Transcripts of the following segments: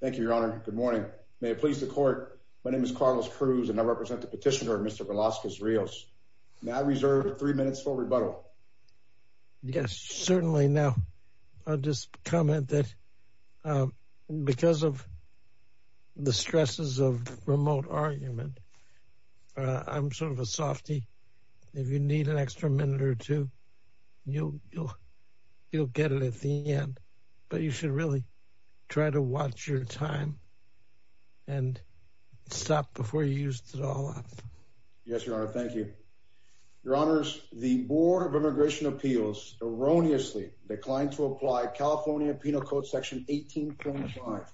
Thank you, Your Honor. Good morning. May it please the Court, my name is Carlos Cruz and I represent the petitioner, Mr. Velasquez-Rios. May I reserve three minutes for rebuttal? Yes, certainly. Now, I'll just comment that because of the stresses of remote argument, I'm sort of a softy. If you need an extra minute or two, you'll get it at the end. But you should really try to watch your time and stop before you use it all up. Yes, Your Honor. Thank you. Your Honors, the Board of Immigration Appeals erroneously declined to apply California Penal Code Section 18.5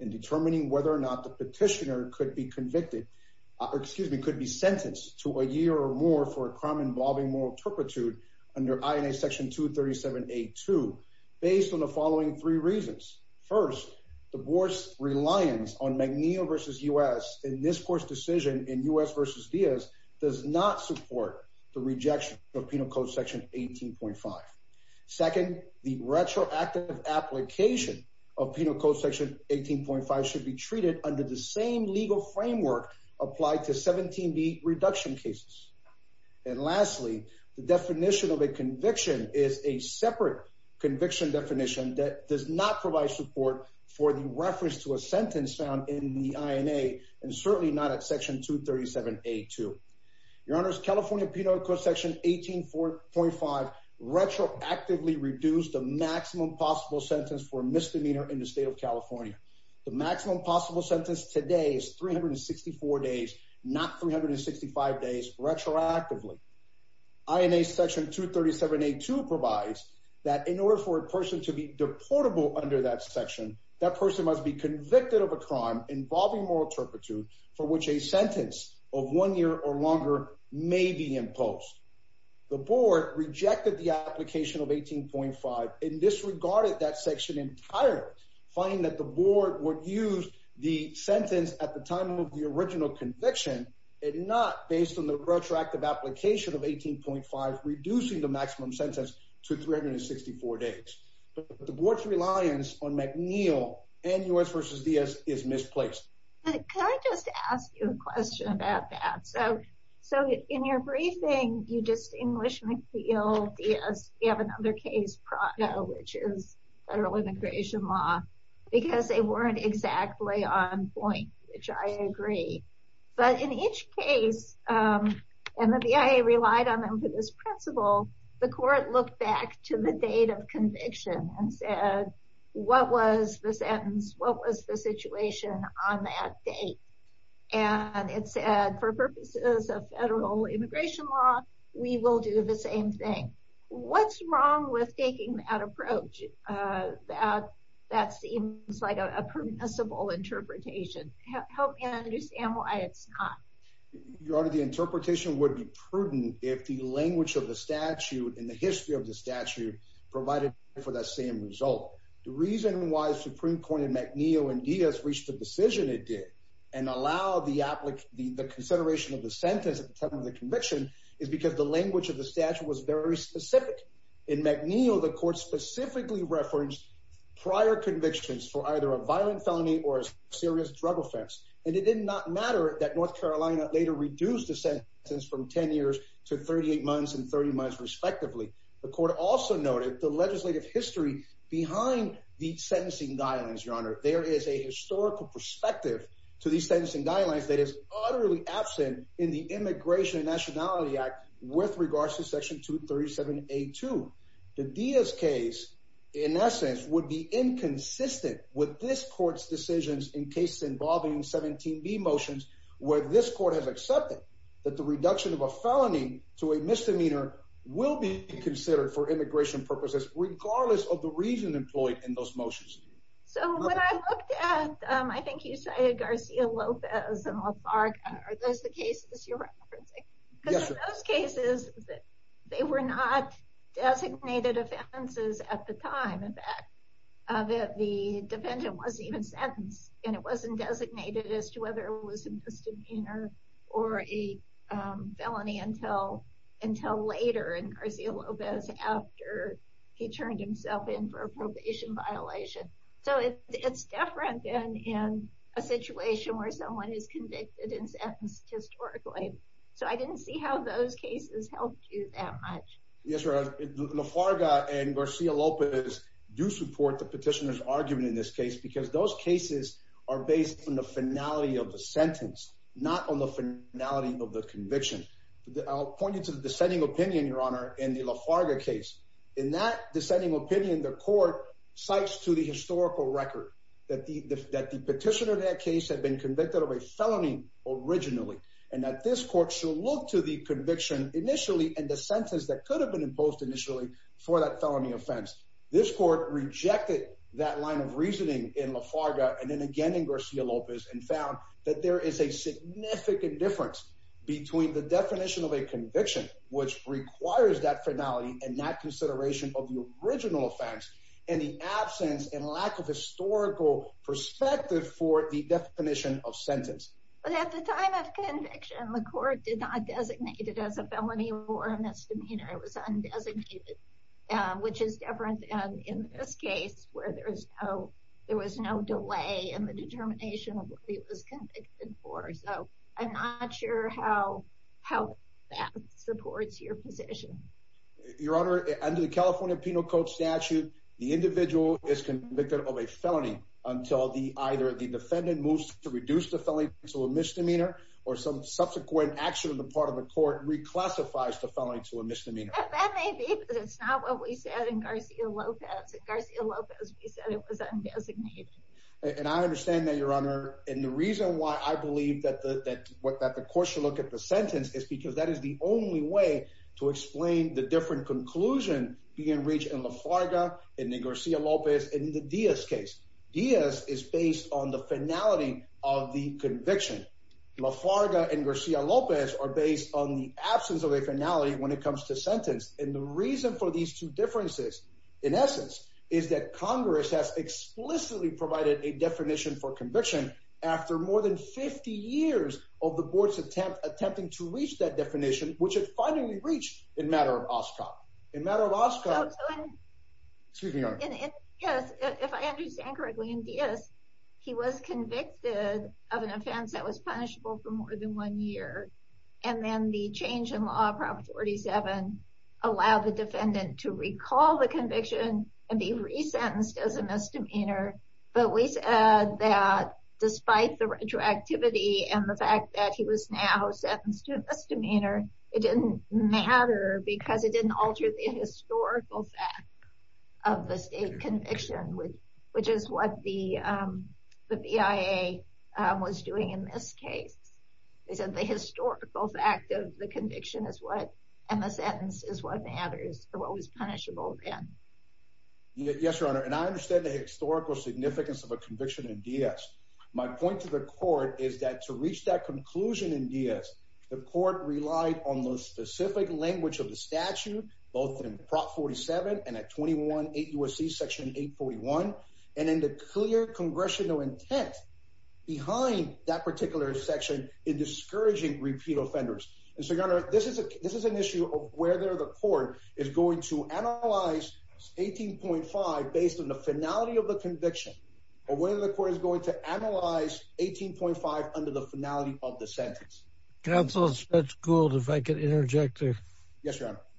in determining whether or not the petitioner could be convicted, excuse me, could be sentenced to a year or more for a crime involving moral turpitude under INA Section 237A.2 based on the following three reasons. First, the Board's reliance on Magnillo v. U.S. in this Court's decision in U.S. v. Diaz does not support the rejection of Penal Code Section 18.5. Second, the retroactive application of Penal Code Section 18.5 should be treated under the same legal framework applied to 17B reduction cases. And lastly, the definition of a conviction is a separate conviction definition that does not provide support for the reference to a sentence found in the INA and certainly not at Section 237A.2. California Penal Code Section 18.5 retroactively reduced the maximum possible sentence for misdemeanor in the state of California. The maximum possible sentence today is 364 days, not 365 days retroactively. INA Section 237A.2 provides that in order for a person to be deportable under that section, that person must be convicted of a crime involving moral turpitude for which a sentence of one year or longer may be imposed. The Board rejected the application of 18.5 and disregarded that section entirely, finding that the Board would use the sentence at the time of the original conviction and not based on the retroactive application of 18.5 reducing the maximum sentence to 364 days. But the Board's reliance on Magnillo and U.S. v. Diaz is misplaced. Can I just ask you a question about that? So in your briefing, you just English, McNeil, Diaz. You have another case, Prado, which is federal immigration law, because they weren't exactly on point, which I agree. But in each case, and the BIA relied on them for this principle, the court looked back to the date of conviction and said, what was the sentence, what was the situation on that date? And it said, for purposes of federal immigration law, we will do the same thing. What's wrong with taking that approach? That seems like a permissible interpretation. Help me understand why it's not. Your Honor, the interpretation would be prudent if the language of the statute and the history of the statute provided for that same result. The reason why Supreme Court in Magnillo and Diaz reached the decision it did and allowed the consideration of the sentence at the time of the conviction is because the language of the statute was very specific. In Magnillo, the court specifically referenced prior convictions for either a violent felony or a serious drug offense. And it did not matter that North Carolina later reduced the sentence from 10 years to 38 months and 30 months, respectively. The court also noted the legislative history behind these sentencing guidelines, Your Honor. There is a historical perspective to these sentencing guidelines that is utterly absent in the Immigration and Nationality Act with regards to Section 237A2. The Diaz case, in essence, would be inconsistent with this court's decisions in cases involving 17B motions where this court has accepted that the reduction of a felony to a misdemeanor will be considered for immigration purposes regardless of the reason employed in those motions. So when I looked at, I think you cited Garcia-Lopez and Lafarga, are those the cases you're referencing? Yes, sir. In those cases, they were not designated offenses at the time. In fact, the defendant wasn't even sentenced. And it wasn't designated as to whether it was a misdemeanor or a felony until later in Garcia-Lopez after he turned himself in for a probation violation. So it's different than in a situation where someone is convicted and sentenced historically. So I didn't see how those cases helped you that much. Yes, sir. Lafarga and Garcia-Lopez do support the petitioner's argument in this case because those cases are based on the finality of the sentence, not on the finality of the conviction. I'll point you to the dissenting opinion, Your Honor, in the Lafarga case. In that dissenting opinion, the court cites to the historical record that the petitioner in that case had been convicted of a felony originally and that this court should look to the conviction initially and the sentence that could have been imposed initially for that felony offense. This court rejected that line of reasoning in Lafarga and then again in Garcia-Lopez and found that there is a significant difference between the definition of a conviction, which requires that finality and that consideration of the original offense, and the absence and lack of historical perspective for the definition of sentence. But at the time of conviction, the court did not designate it as a felony or a misdemeanor. It was undesignated, which is different than in this case where there was no delay in the determination of what he was convicted for. So I'm not sure how that supports your position. Your Honor, under the California Penal Code statute, the individual is convicted of a felony until either the defendant moves to reduce the felony to a misdemeanor or some subsequent action on the part of the court reclassifies the felony to a misdemeanor. That may be, but it's not what we said in Garcia-Lopez. In Garcia-Lopez, we said it was undesignated. And I understand that, Your Honor. And the reason why I believe that the court should look at the sentence is because that is the only way to explain the different conclusion being reached in Lafarga, in the Garcia-Lopez, and in the Diaz case. Diaz is based on the finality of the conviction. Lafarga and Garcia-Lopez are based on the absence of a finality when it comes to sentence. And the reason for these two differences, in essence, is that Congress has explicitly provided a definition for conviction after more than 50 years of the board's attempt attempting to reach that definition, which it finally reached in matter of OSCOP. In matter of OSCOP. Excuse me, Your Honor. Yes, if I understand correctly, in Diaz, he was convicted of an offense that was punishable for more than one year. And then the change in law, Prop 47, allowed the defendant to recall the conviction and be resentenced as a misdemeanor. But we said that despite the retroactivity and the fact that he was now sentenced to a misdemeanor, it didn't matter because it didn't alter the historical fact of the state conviction, which is what the BIA was doing in this case. They said the historical fact of the conviction is what, and the sentence is what matters, what was punishable then. Yes, Your Honor, and I understand the historical significance of a conviction in Diaz. My point to the court is that to reach that conclusion in Diaz, the court relied on the specific language of the statute, both in Prop 47 and at 21-8 U.S.C. Section 841. And in the clear congressional intent behind that particular section in discouraging repeat offenders. And so, Your Honor, this is an issue of whether the court is going to analyze 18.5 based on the finality of the conviction or whether the court is going to analyze 18.5 under the finality of the sentence. Counsel Judge Gould, if I could interject a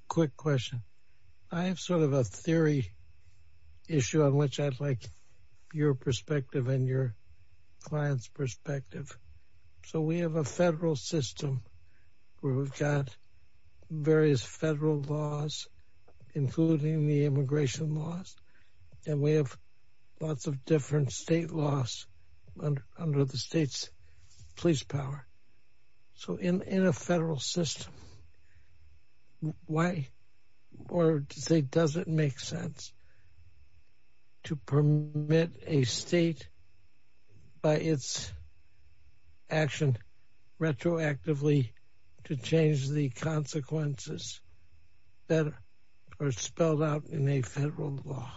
quick question. I have sort of a theory issue on which I'd like your perspective and your client's perspective. So we have a federal system where we've got various federal laws, including the immigration laws, and we have lots of different state laws under the state's police power. So in a federal system, why or does it make sense to permit a state by its action retroactively to change the consequences that are spelled out in a federal law?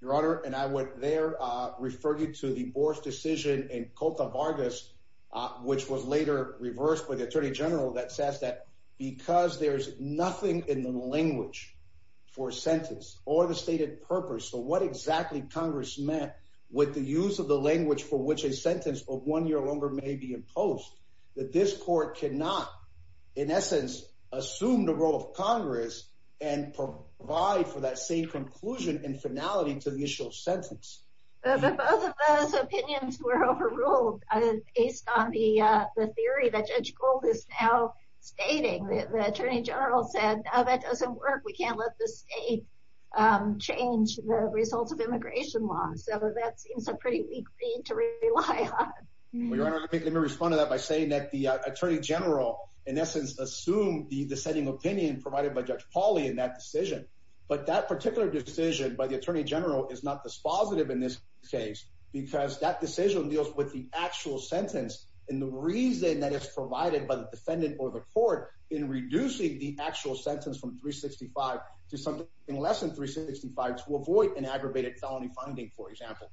Your Honor, and I would there refer you to the Boar's decision in Cota Vargas, which was later reversed by the Attorney General that says that because there's nothing in the language for a sentence or the stated purpose. So what exactly Congress meant with the use of the language for which a sentence of one year or longer may be imposed, that this court cannot, in essence, assume the role of Congress and provide for that same conclusion and finality to the initial sentence. Both of those opinions were overruled based on the theory that Judge Gould is now stating. The Attorney General said, no, that doesn't work. We can't let the state change the results of immigration law. So that seems a pretty weak thing to rely on. Your Honor, let me respond to that by saying that the Attorney General, in essence, assumed the dissenting opinion provided by Judge Pauly in that decision. But that particular decision by the Attorney General is not dispositive in this case because that decision deals with the actual sentence and the reason that is provided by the defendant or the court in reducing the actual sentence from 365 to something less than 365 to avoid an aggravated felony finding, for example.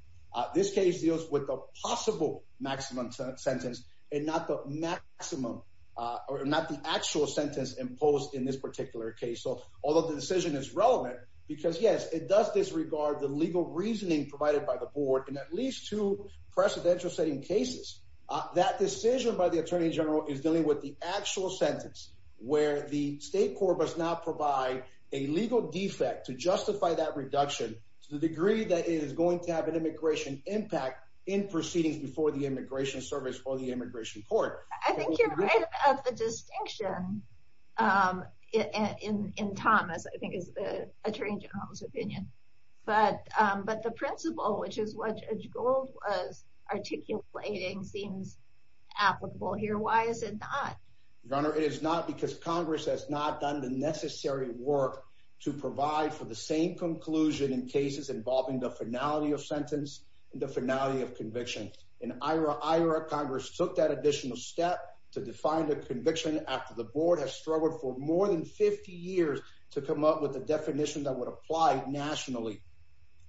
This case deals with the possible maximum sentence and not the maximum or not the actual sentence imposed in this particular case. So although the decision is relevant because, yes, it does disregard the legal reasoning provided by the board in at least two precedential setting cases. That decision by the Attorney General is dealing with the actual sentence where the state court does not provide a legal defect to justify that reduction to the degree that it is going to have an immigration impact in proceedings before the Immigration Service or the Immigration Court. I think you're right about the distinction in Thomas. I think it's the Attorney General's opinion. But the principle, which is what Judge Gold was articulating, seems applicable here. Why is it not? Your Honor, it is not because Congress has not done the necessary work to provide for the same conclusion in cases involving the finality of sentence and the finality of conviction. In IRA, Congress took that additional step to define the conviction after the board has struggled for more than 50 years to come up with a definition that would apply nationally.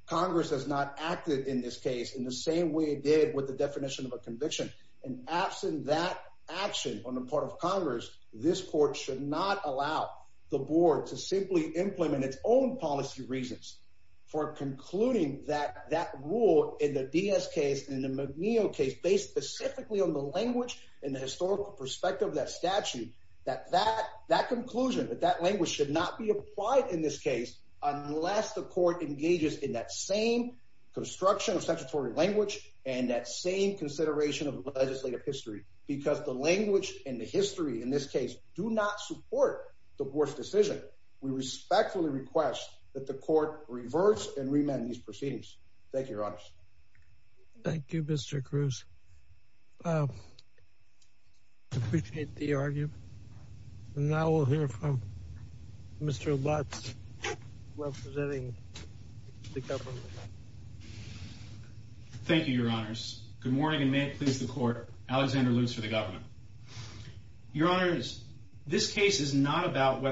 Congress has not acted in this case in the same way it did with the definition of a conviction. And absent that action on the part of Congress, this court should not allow the board to simply implement its own policy reasons for concluding that rule in the Diaz case and the McNeil case based specifically on the language and the historical perspective of that statute. That conclusion, that language, should not be applied in this case unless the court engages in that same construction of statutory language and that same consideration of legislative history. Because the language and the history in this case do not support the board's decision. We respectfully request that the court reverse and remand these proceedings. Thank you, Your Honor. Thank you, Mr. Cruz. I appreciate the argument. And now we'll hear from Mr. Lutz representing the government. And this case is not about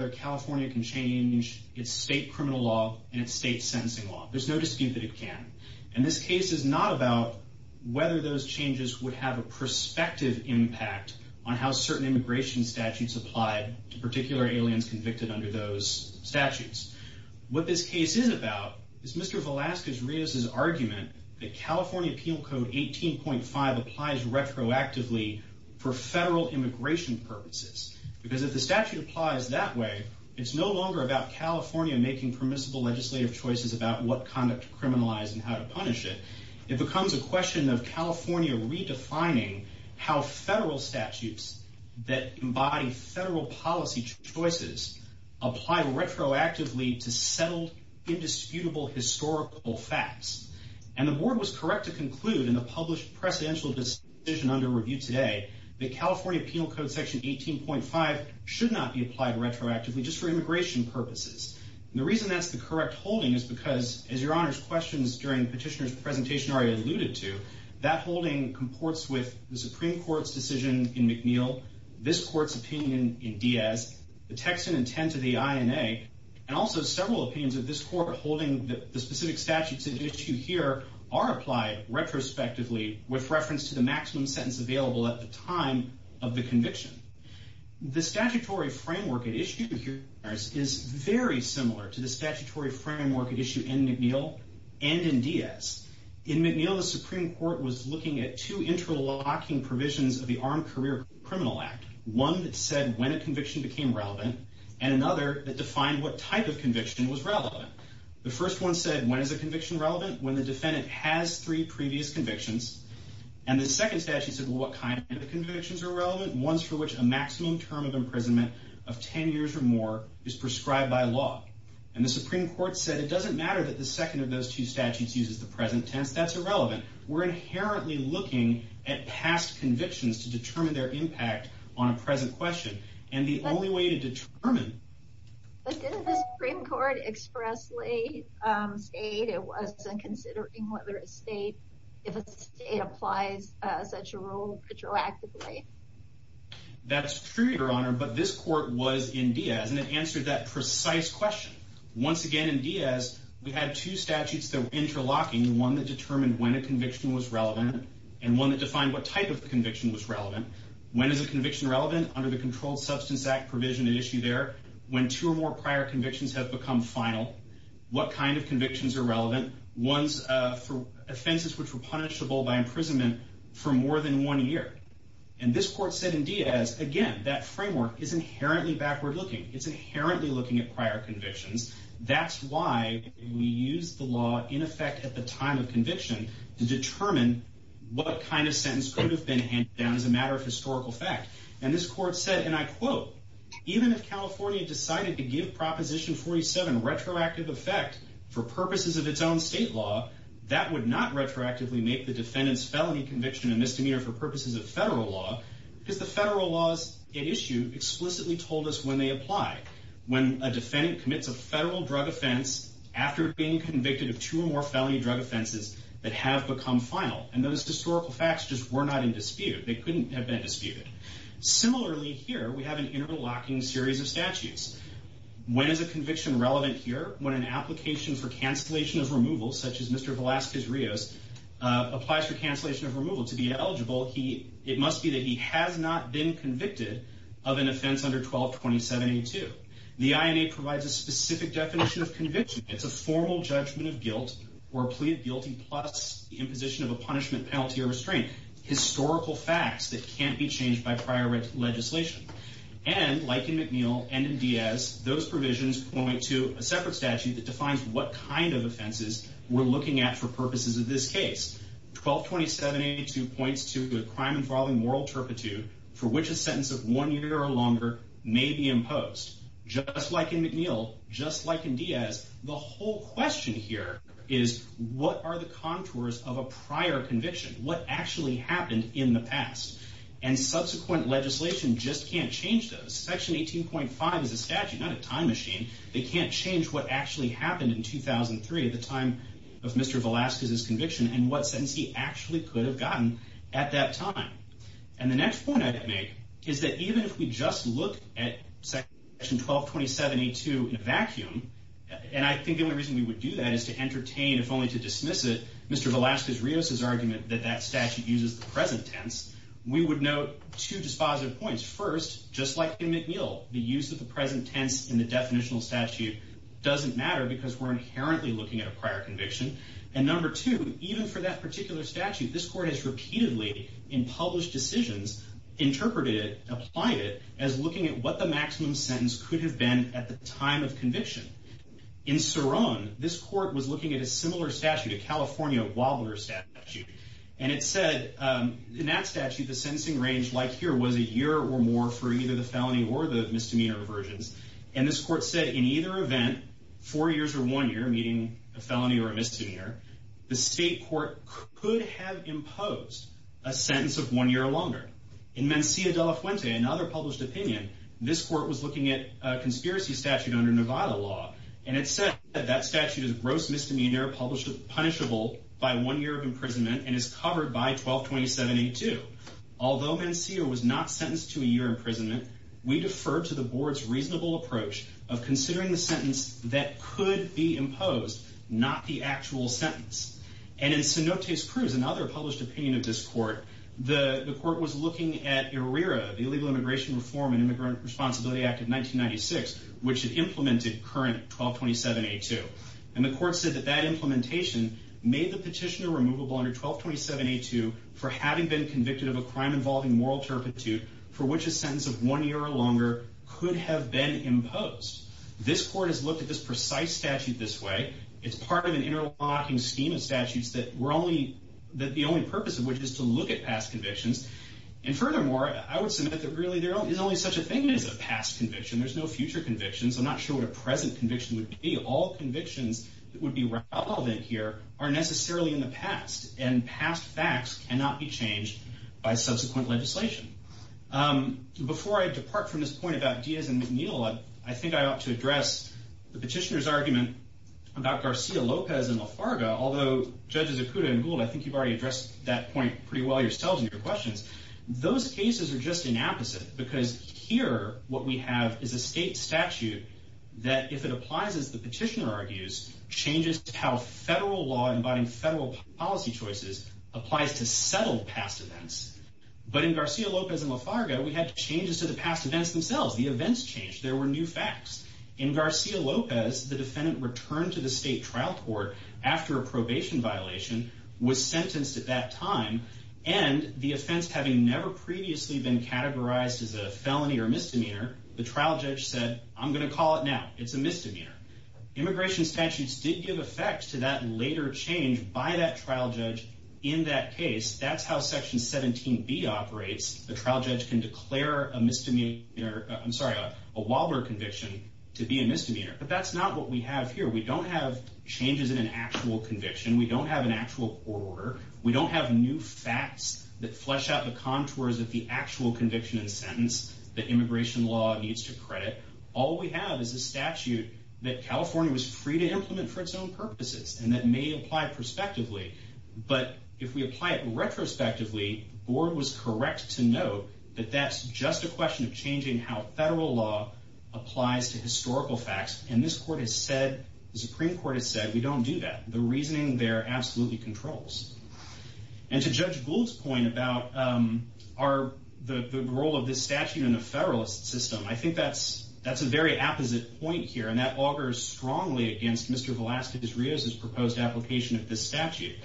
whether those changes would have a prospective impact on how certain immigration statutes apply to particular aliens convicted under those statutes. What this case is about is Mr. Velazquez-Rios' argument that California Penal Code 18.5 applies retroactively for federal immigration purposes. Because if the statute applies that way, it's no longer about California making permissible legislative choices about what conduct to criminalize and how to punish it. It becomes a question of California redefining how federal statutes that embody federal policy choices apply retroactively to settled, indisputable historical facts. And the board was correct to conclude in the published presidential decision under review today that California Penal Code Section 18.5 should not be applied retroactively just for immigration purposes. And the reason that's the correct holding is because, as Your Honor's questions during Petitioner's presentation already alluded to, that holding comports with the Supreme Court's decision in McNeil, this court's opinion in Diaz, the text and intent of the INA, and also several opinions of this court holding that the specific statutes at issue here are applied retrospectively with reference to the maximum sentence available at the time of the conviction. The statutory framework at issue here is very similar to the statutory framework at issue in McNeil and in Diaz. In McNeil, the Supreme Court was looking at two interlocking provisions of the Armed Career Criminal Act, one that said when a conviction became relevant and another that defined what type of conviction was relevant. The first one said when is a conviction relevant? When the defendant has three previous convictions. And the second statute said what kind of convictions are relevant, ones for which a maximum term of imprisonment of 10 years or more is prescribed by law. And the Supreme Court said it doesn't matter that the second of those two statutes uses the present tense, that's irrelevant. We're inherently looking at past convictions to determine their impact on a present question. And the only way to determine... But didn't the Supreme Court expressly state it wasn't considering whether a state, if a state applies such a rule retroactively? That's true, Your Honor, but this court was in Diaz and it answered that precise question. Once again in Diaz, we had two statutes that were interlocking, one that determined when a conviction was relevant and one that defined what type of conviction was relevant. When is a conviction relevant? Under the Controlled Substance Act provision at issue there. When two or more prior convictions have become final, what kind of convictions are relevant? Ones for offenses which were punishable by imprisonment for more than one year. And this court said in Diaz, again, that framework is inherently backward looking. It's inherently looking at prior convictions. That's why we use the law in effect at the time of conviction to determine what kind of sentence could have been handed down as a matter of historical fact. And this court said, and I quote, Even if California decided to give Proposition 47 retroactive effect for purposes of its own state law, that would not retroactively make the defendant's felony conviction a misdemeanor for purposes of federal law, because the federal laws at issue explicitly told us when they apply. When a defendant commits a federal drug offense after being convicted of two or more felony drug offenses that have become final. And those historical facts just were not in dispute. They couldn't have been disputed. Similarly here, we have an interlocking series of statutes. When is a conviction relevant here? When an application for cancellation of removal, such as Mr. Velazquez-Rios, applies for cancellation of removal. It must be that he has not been convicted of an offense under 122782. The INA provides a specific definition of conviction. It's a formal judgment of guilt or plea of guilty plus imposition of a punishment, penalty, or restraint. Historical facts that can't be changed by prior legislation. And like in McNeill and in Diaz, those provisions point to a separate statute that defines what kind of offenses we're looking at for purposes of this case. 122782 points to a crime involving moral turpitude for which a sentence of one year or longer may be imposed. Just like in McNeill, just like in Diaz, the whole question here is what are the contours of a prior conviction? What actually happened in the past? And subsequent legislation just can't change those. Section 18.5 is a statute, not a time machine. They can't change what actually happened in 2003 at the time of Mr. Velazquez's conviction. And what sentence he actually could have gotten at that time. And the next point I'd make is that even if we just look at Section 122782 in a vacuum, and I think the only reason we would do that is to entertain, if only to dismiss it, Mr. Velazquez-Rios' argument that that statute uses the present tense, we would note two dispositive points. First, just like in McNeill, the use of the present tense in the definitional statute doesn't matter because we're inherently looking at a prior conviction. And number two, even for that particular statute, this court has repeatedly, in published decisions, interpreted it, applied it as looking at what the maximum sentence could have been at the time of conviction. In Cerrone, this court was looking at a similar statute, a California Wilder statute. And it said in that statute the sentencing range, like here, was a year or more for either the felony or the misdemeanor aversions. And this court said in either event, four years or one year, meaning a felony or a misdemeanor, the state court could have imposed a sentence of one year or longer. In Mencia de la Fuente, another published opinion, this court was looking at a conspiracy statute under Nevada law. And it said that that statute is gross misdemeanor punishable by one year of imprisonment and is covered by 122782. Although Mencia was not sentenced to a year imprisonment, we defer to the board's reasonable approach of considering the sentence that could be imposed, not the actual sentence. And in Cenotes Cruz, another published opinion of this court, the court was looking at IRERA, the Illegal Immigration Reform and Immigrant Responsibility Act of 1996, which had implemented current 122782. And the court said that that implementation made the petitioner removable under 122782 for having been convicted of a crime involving moral turpitude for which a sentence of one year or longer could have been imposed. This court has looked at this precise statute this way. It's part of an interlocking scheme of statutes that the only purpose of which is to look at past convictions. And furthermore, I would submit that really there is only such a thing as a past conviction. There's no future convictions. I'm not sure what a present conviction would be. All convictions that would be relevant here are necessarily in the past, and past facts cannot be changed by subsequent legislation. Before I depart from this point about Diaz and McNeill, I think I ought to address the petitioner's argument about García López and La Farga. Although, Judges Acuda and Gould, I think you've already addressed that point pretty well yourselves in your questions. Those cases are just inapposite because here what we have is a state statute that, if it applies as the petitioner argues, changes how federal law embodying federal policy choices applies to settled past events. But in García López and La Farga, we had changes to the past events themselves. The events changed. There were new facts. In García López, the defendant returned to the state trial court after a probation violation, was sentenced at that time, and the offense having never previously been categorized as a felony or misdemeanor, the trial judge said, I'm going to call it now. It's a misdemeanor. Immigration statutes did give effect to that later change by that trial judge in that case. That's how Section 17B operates. The trial judge can declare a Waldberg conviction to be a misdemeanor. But that's not what we have here. We don't have changes in an actual conviction. We don't have an actual court order. We don't have new facts that flesh out the contours of the actual conviction and sentence that immigration law needs to credit. All we have is a statute that California was free to implement for its own purposes, and that may apply prospectively. But if we apply it retrospectively, the board was correct to note that that's just a question of changing how federal law applies to historical facts. And this court has said, the Supreme Court has said, we don't do that. The reasoning there absolutely controls. And to Judge Gould's point about the role of this statute in a federalist system, I think that's a very opposite point here, and that augurs strongly against Mr. Velazquez-Rios' proposed application of this statute.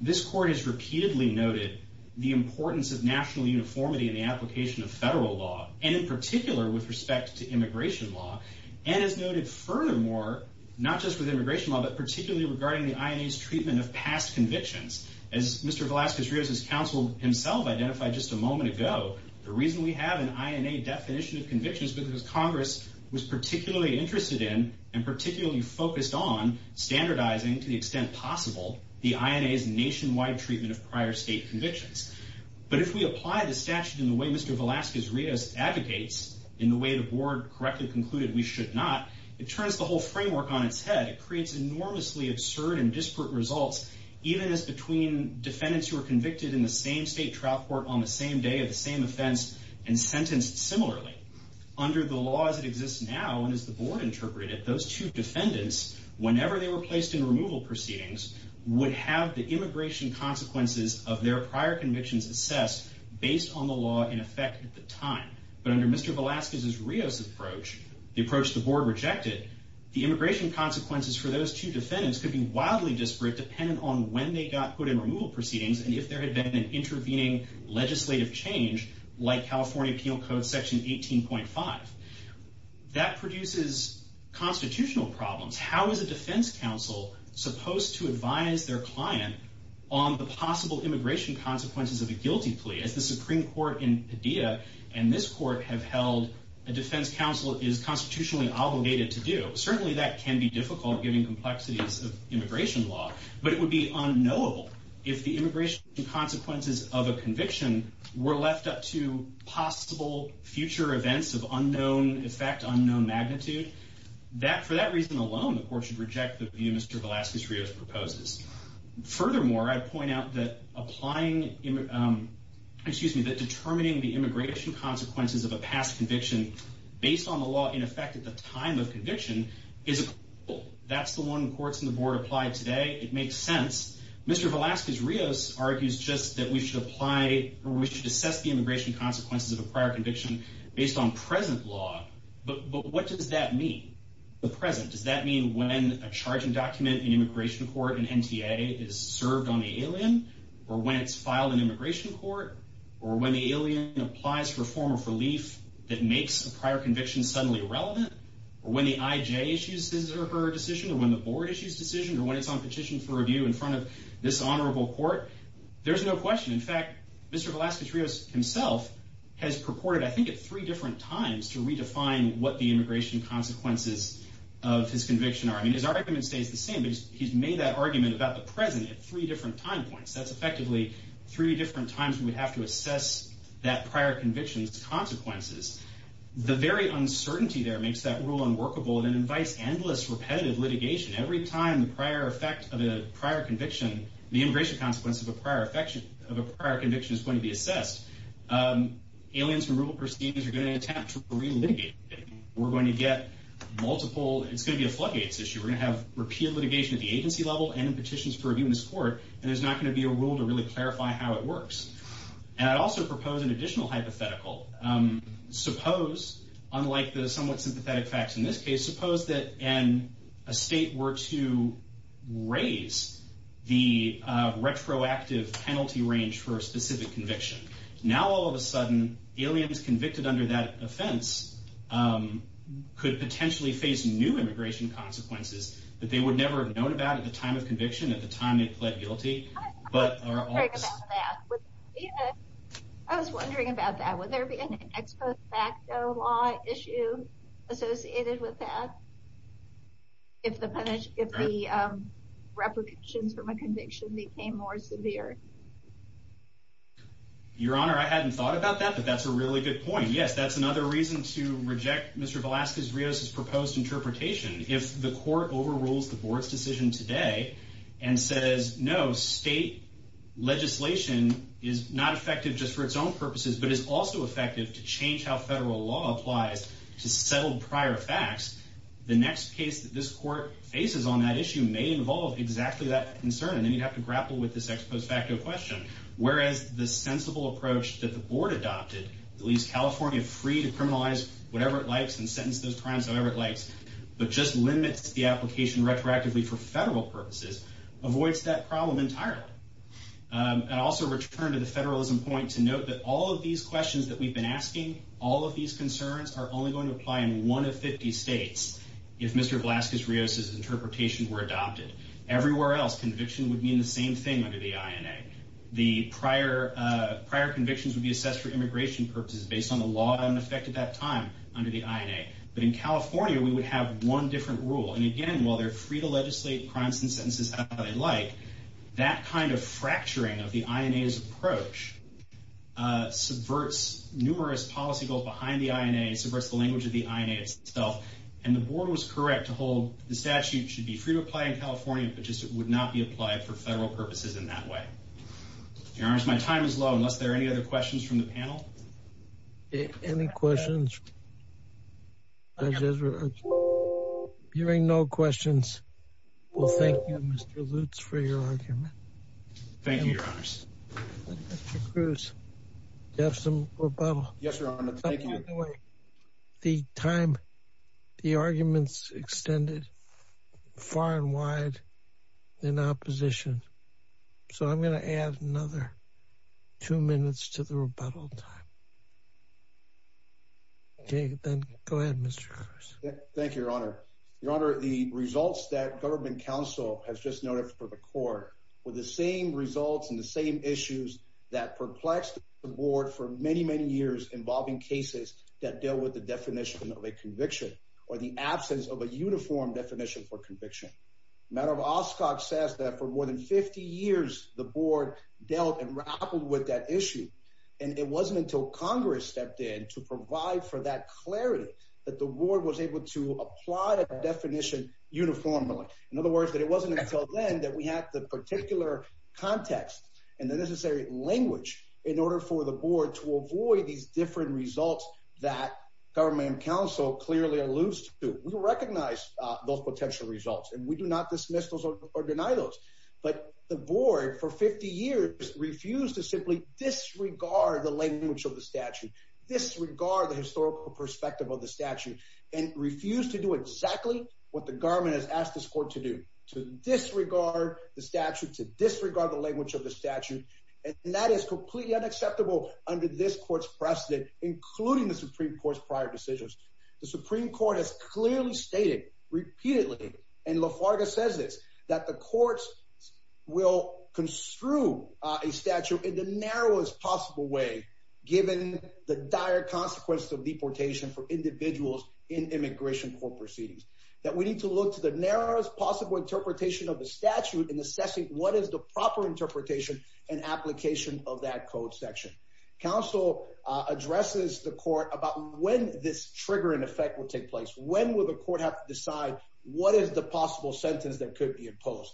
This court has repeatedly noted the importance of national uniformity in the application of federal law, and in particular with respect to immigration law, and has noted furthermore, not just with immigration law, but particularly regarding the INA's treatment of past convictions. As Mr. Velazquez-Rios' counsel himself identified just a moment ago, the reason we have an INA definition of conviction is because Congress was particularly interested in and particularly focused on standardizing, to the extent possible, the INA's nationwide treatment of prior state convictions. But if we apply the statute in the way Mr. Velazquez-Rios advocates, in the way the board correctly concluded we should not, it turns the whole framework on its head. It creates enormously absurd and disparate results, even as between defendants who were convicted in the same state trial court on the same day of the same offense and sentenced similarly. Under the law as it exists now, and as the board interpreted it, those two defendants, whenever they were placed in removal proceedings, would have the immigration consequences of their prior convictions assessed based on the law in effect at the time. But under Mr. Velazquez-Rios' approach, the approach the board rejected, the immigration consequences for those two defendants could be wildly disparate depending on when they got put in removal proceedings and if there had been an intervening legislative change, like California Penal Code Section 18.5. That produces constitutional problems. How is a defense counsel supposed to advise their client on the possible immigration consequences of a guilty plea? As the Supreme Court in Padilla and this court have held, a defense counsel is constitutionally obligated to do. Certainly that can be difficult given complexities of immigration law, but it would be unknowable if the immigration consequences of a conviction were left up to possible future events of unknown effect, unknown magnitude. For that reason alone, the court should reject the view Mr. Velazquez-Rios proposes. Furthermore, I'd point out that determining the immigration consequences of a past conviction based on the law in effect at the time of conviction, that's the one courts in the board apply today. It makes sense. Mr. Velazquez-Rios argues just that we should assess the immigration consequences of a prior conviction based on present law. But what does that mean? Does that mean when a charging document in immigration court in NTA is served on the alien, or when it's filed in immigration court, or when the alien applies for a form of relief that makes a prior conviction suddenly irrelevant, or when the IJ issues his or her decision, or when the board issues a decision, or when it's on petition for review in front of this honorable court? There's no question. In fact, Mr. Velazquez-Rios himself has purported, I think at three different times, to redefine what the immigration consequences of his conviction are. I mean, his argument stays the same, but he's made that argument about the present at three different time points. That's effectively three different times we would have to assess that prior conviction's consequences. The very uncertainty there makes that rule unworkable and invites endless, repetitive litigation. Every time the prior effect of a prior conviction, the immigration consequence of a prior conviction is going to be assessed, aliens removal proceedings are going to attempt to re-litigate. We're going to get multiple, it's going to be a floodgates issue. We're going to have repeated litigation at the agency level and in petitions for review in this court, and there's not going to be a rule to really clarify how it works. And I'd also propose an additional hypothetical. Suppose, unlike the somewhat sympathetic facts in this case, suppose that a state were to raise the retroactive penalty range for a specific conviction. Now, all of a sudden, aliens convicted under that offense could potentially face new immigration consequences that they would never have known about at the time of conviction, at the time they pled guilty. I was wondering about that. I was wondering about that. Would there be an ex post facto law issue associated with that? If the repercussions from a conviction became more severe? Your Honor, I hadn't thought about that, but that's a really good point. Yes, that's another reason to reject Mr. Velasquez-Rios' proposed interpretation. If the court overrules the board's decision today and says, no, state legislation is not effective just for its own purposes, but is also effective to change how federal law applies to settled prior facts, the next case that this court faces on that issue may involve exactly that concern, and then you'd have to grapple with this ex post facto question. Whereas the sensible approach that the board adopted, that leaves California free to criminalize whatever it likes and sentence those crimes however it likes, but just limits the application retroactively for federal purposes, avoids that problem entirely. I'd also return to the federalism point to note that all of these questions that we've been asking, all of these concerns are only going to apply in one of 50 states if Mr. Velasquez-Rios' interpretations were adopted. Everywhere else, conviction would mean the same thing under the INA. The prior convictions would be assessed for immigration purposes based on the law in effect at that time under the INA. But in California, we would have one different rule, and again, while they're free to legislate crimes and sentences however they like, that kind of fracturing of the INA's approach subverts numerous policy goals behind the INA, subverts the language of the INA itself, and the board was correct to hold the statute should be free to apply in California, but just would not be applied for federal purposes in that way. Your Honors, my time is low unless there are any other questions from the panel. Any questions? Hearing no questions, we'll thank you, Mr. Lutz, for your argument. Thank you, Your Honors. Mr. Cruz, do you have some rebuttal? Yes, Your Honor. Thank you. By the way, the time, the argument's extended far and wide in opposition, so I'm going to add another two minutes to the rebuttal time. Okay, then go ahead, Mr. Cruz. Thank you, Your Honor. Your Honor, the results that government counsel has just noted for the court were the same results and the same issues that perplexed the board for many, many years involving cases that deal with the definition of a conviction or the absence of a uniform definition for conviction. The matter of Oscok says that for more than 50 years, the board dealt and grappled with that issue, and it wasn't until Congress stepped in to provide for that clarity that the board was able to apply that definition uniformly. In other words, that it wasn't until then that we had the particular context and the necessary language in order for the board to avoid these different results that government counsel clearly alludes to. We recognize those potential results, and we do not dismiss those or deny those, but the board for 50 years refused to simply disregard the language of the statute, disregard the historical perspective of the statute, and refused to do exactly what the government has asked this court to do, to disregard the statute, to disregard the language of the statute, and that is completely unacceptable under this court's precedent, including the Supreme Court's prior decisions. The Supreme Court has clearly stated repeatedly, and Lafarga says this, that the courts will construe a statute in the narrowest possible way given the dire consequences of deportation for individuals in immigration court proceedings, that we need to look to the narrowest possible interpretation of the statute in assessing what is the proper interpretation and application of that code section. Counsel addresses the court about when this trigger in effect will take place. When will the court have to decide what is the possible sentence that could be imposed?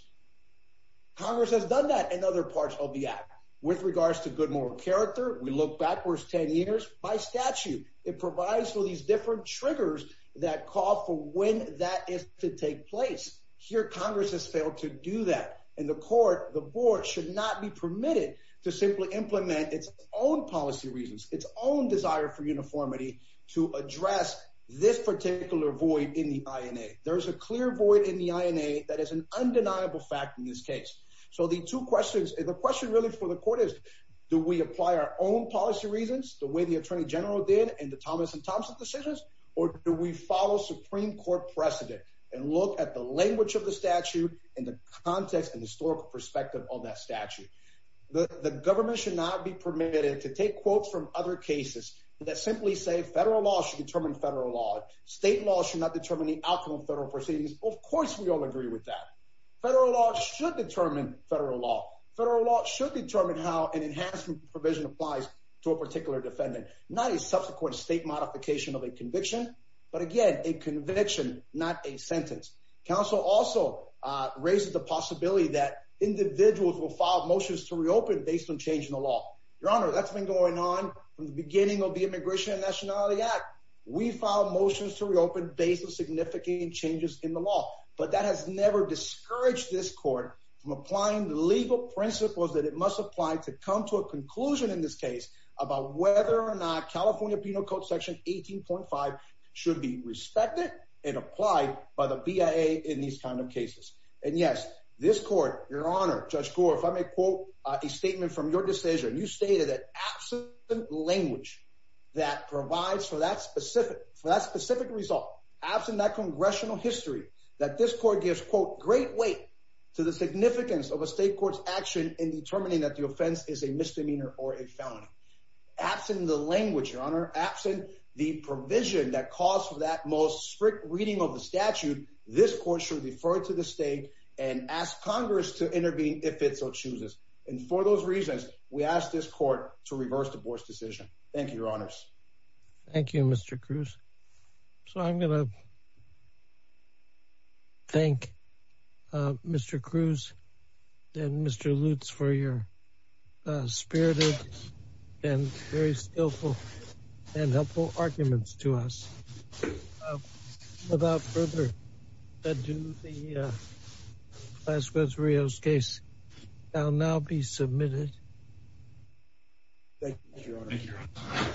Congress has done that in other parts of the act. With regards to good moral character, we look backwards 10 years. By statute, it provides for these different triggers that call for when that is to take place. Here, Congress has failed to do that. In the court, the board should not be permitted to simply implement its own policy reasons, its own desire for uniformity to address this particular void in the INA. There is a clear void in the INA that is an undeniable fact in this case. So the two questions, the question really for the court is, do we apply our own policy reasons the way the Attorney General did in the Thomas and Thompson decisions, or do we follow Supreme Court precedent and look at the language of the statute and the context and historical perspective of that statute? The government should not be permitted to take quotes from other cases that simply say federal law should determine federal law. State law should not determine the outcome of federal proceedings. Of course we all agree with that. Federal law should determine federal law. Federal law should determine how an enhancement provision applies to a particular defendant, not a subsequent state modification of a conviction, but again, a conviction, not a sentence. Council also raises the possibility that individuals will file motions to reopen based on change in the law. Your Honor, that's been going on from the beginning of the Immigration and Nationality Act. We filed motions to reopen based on significant changes in the law, but that has never discouraged this court from applying the legal principles that it must apply to come to a conclusion in this case about whether or not should be respected and applied by the BIA in these kind of cases. And yes, this court, Your Honor, Judge Gore, if I may quote a statement from your decision, you stated that absent language that provides for that specific result, absent that congressional history, that this court gives, quote, great weight to the significance of a state court's action in determining that the offense is a misdemeanor or a felony. Absent the language, Your Honor, absent the provision that calls for that most strict reading of the statute, this court should refer to the state and ask Congress to intervene if it so chooses. And for those reasons, we ask this court to reverse the board's decision. Thank you, Your Honors. Thank you, Mr. Cruz. So I'm going to thank Mr. Cruz and Mr. Lutz for your spirited and very skillful and helpful arguments to us. Without further ado, the Las Rios case shall now be submitted. Thank you, Your Honor.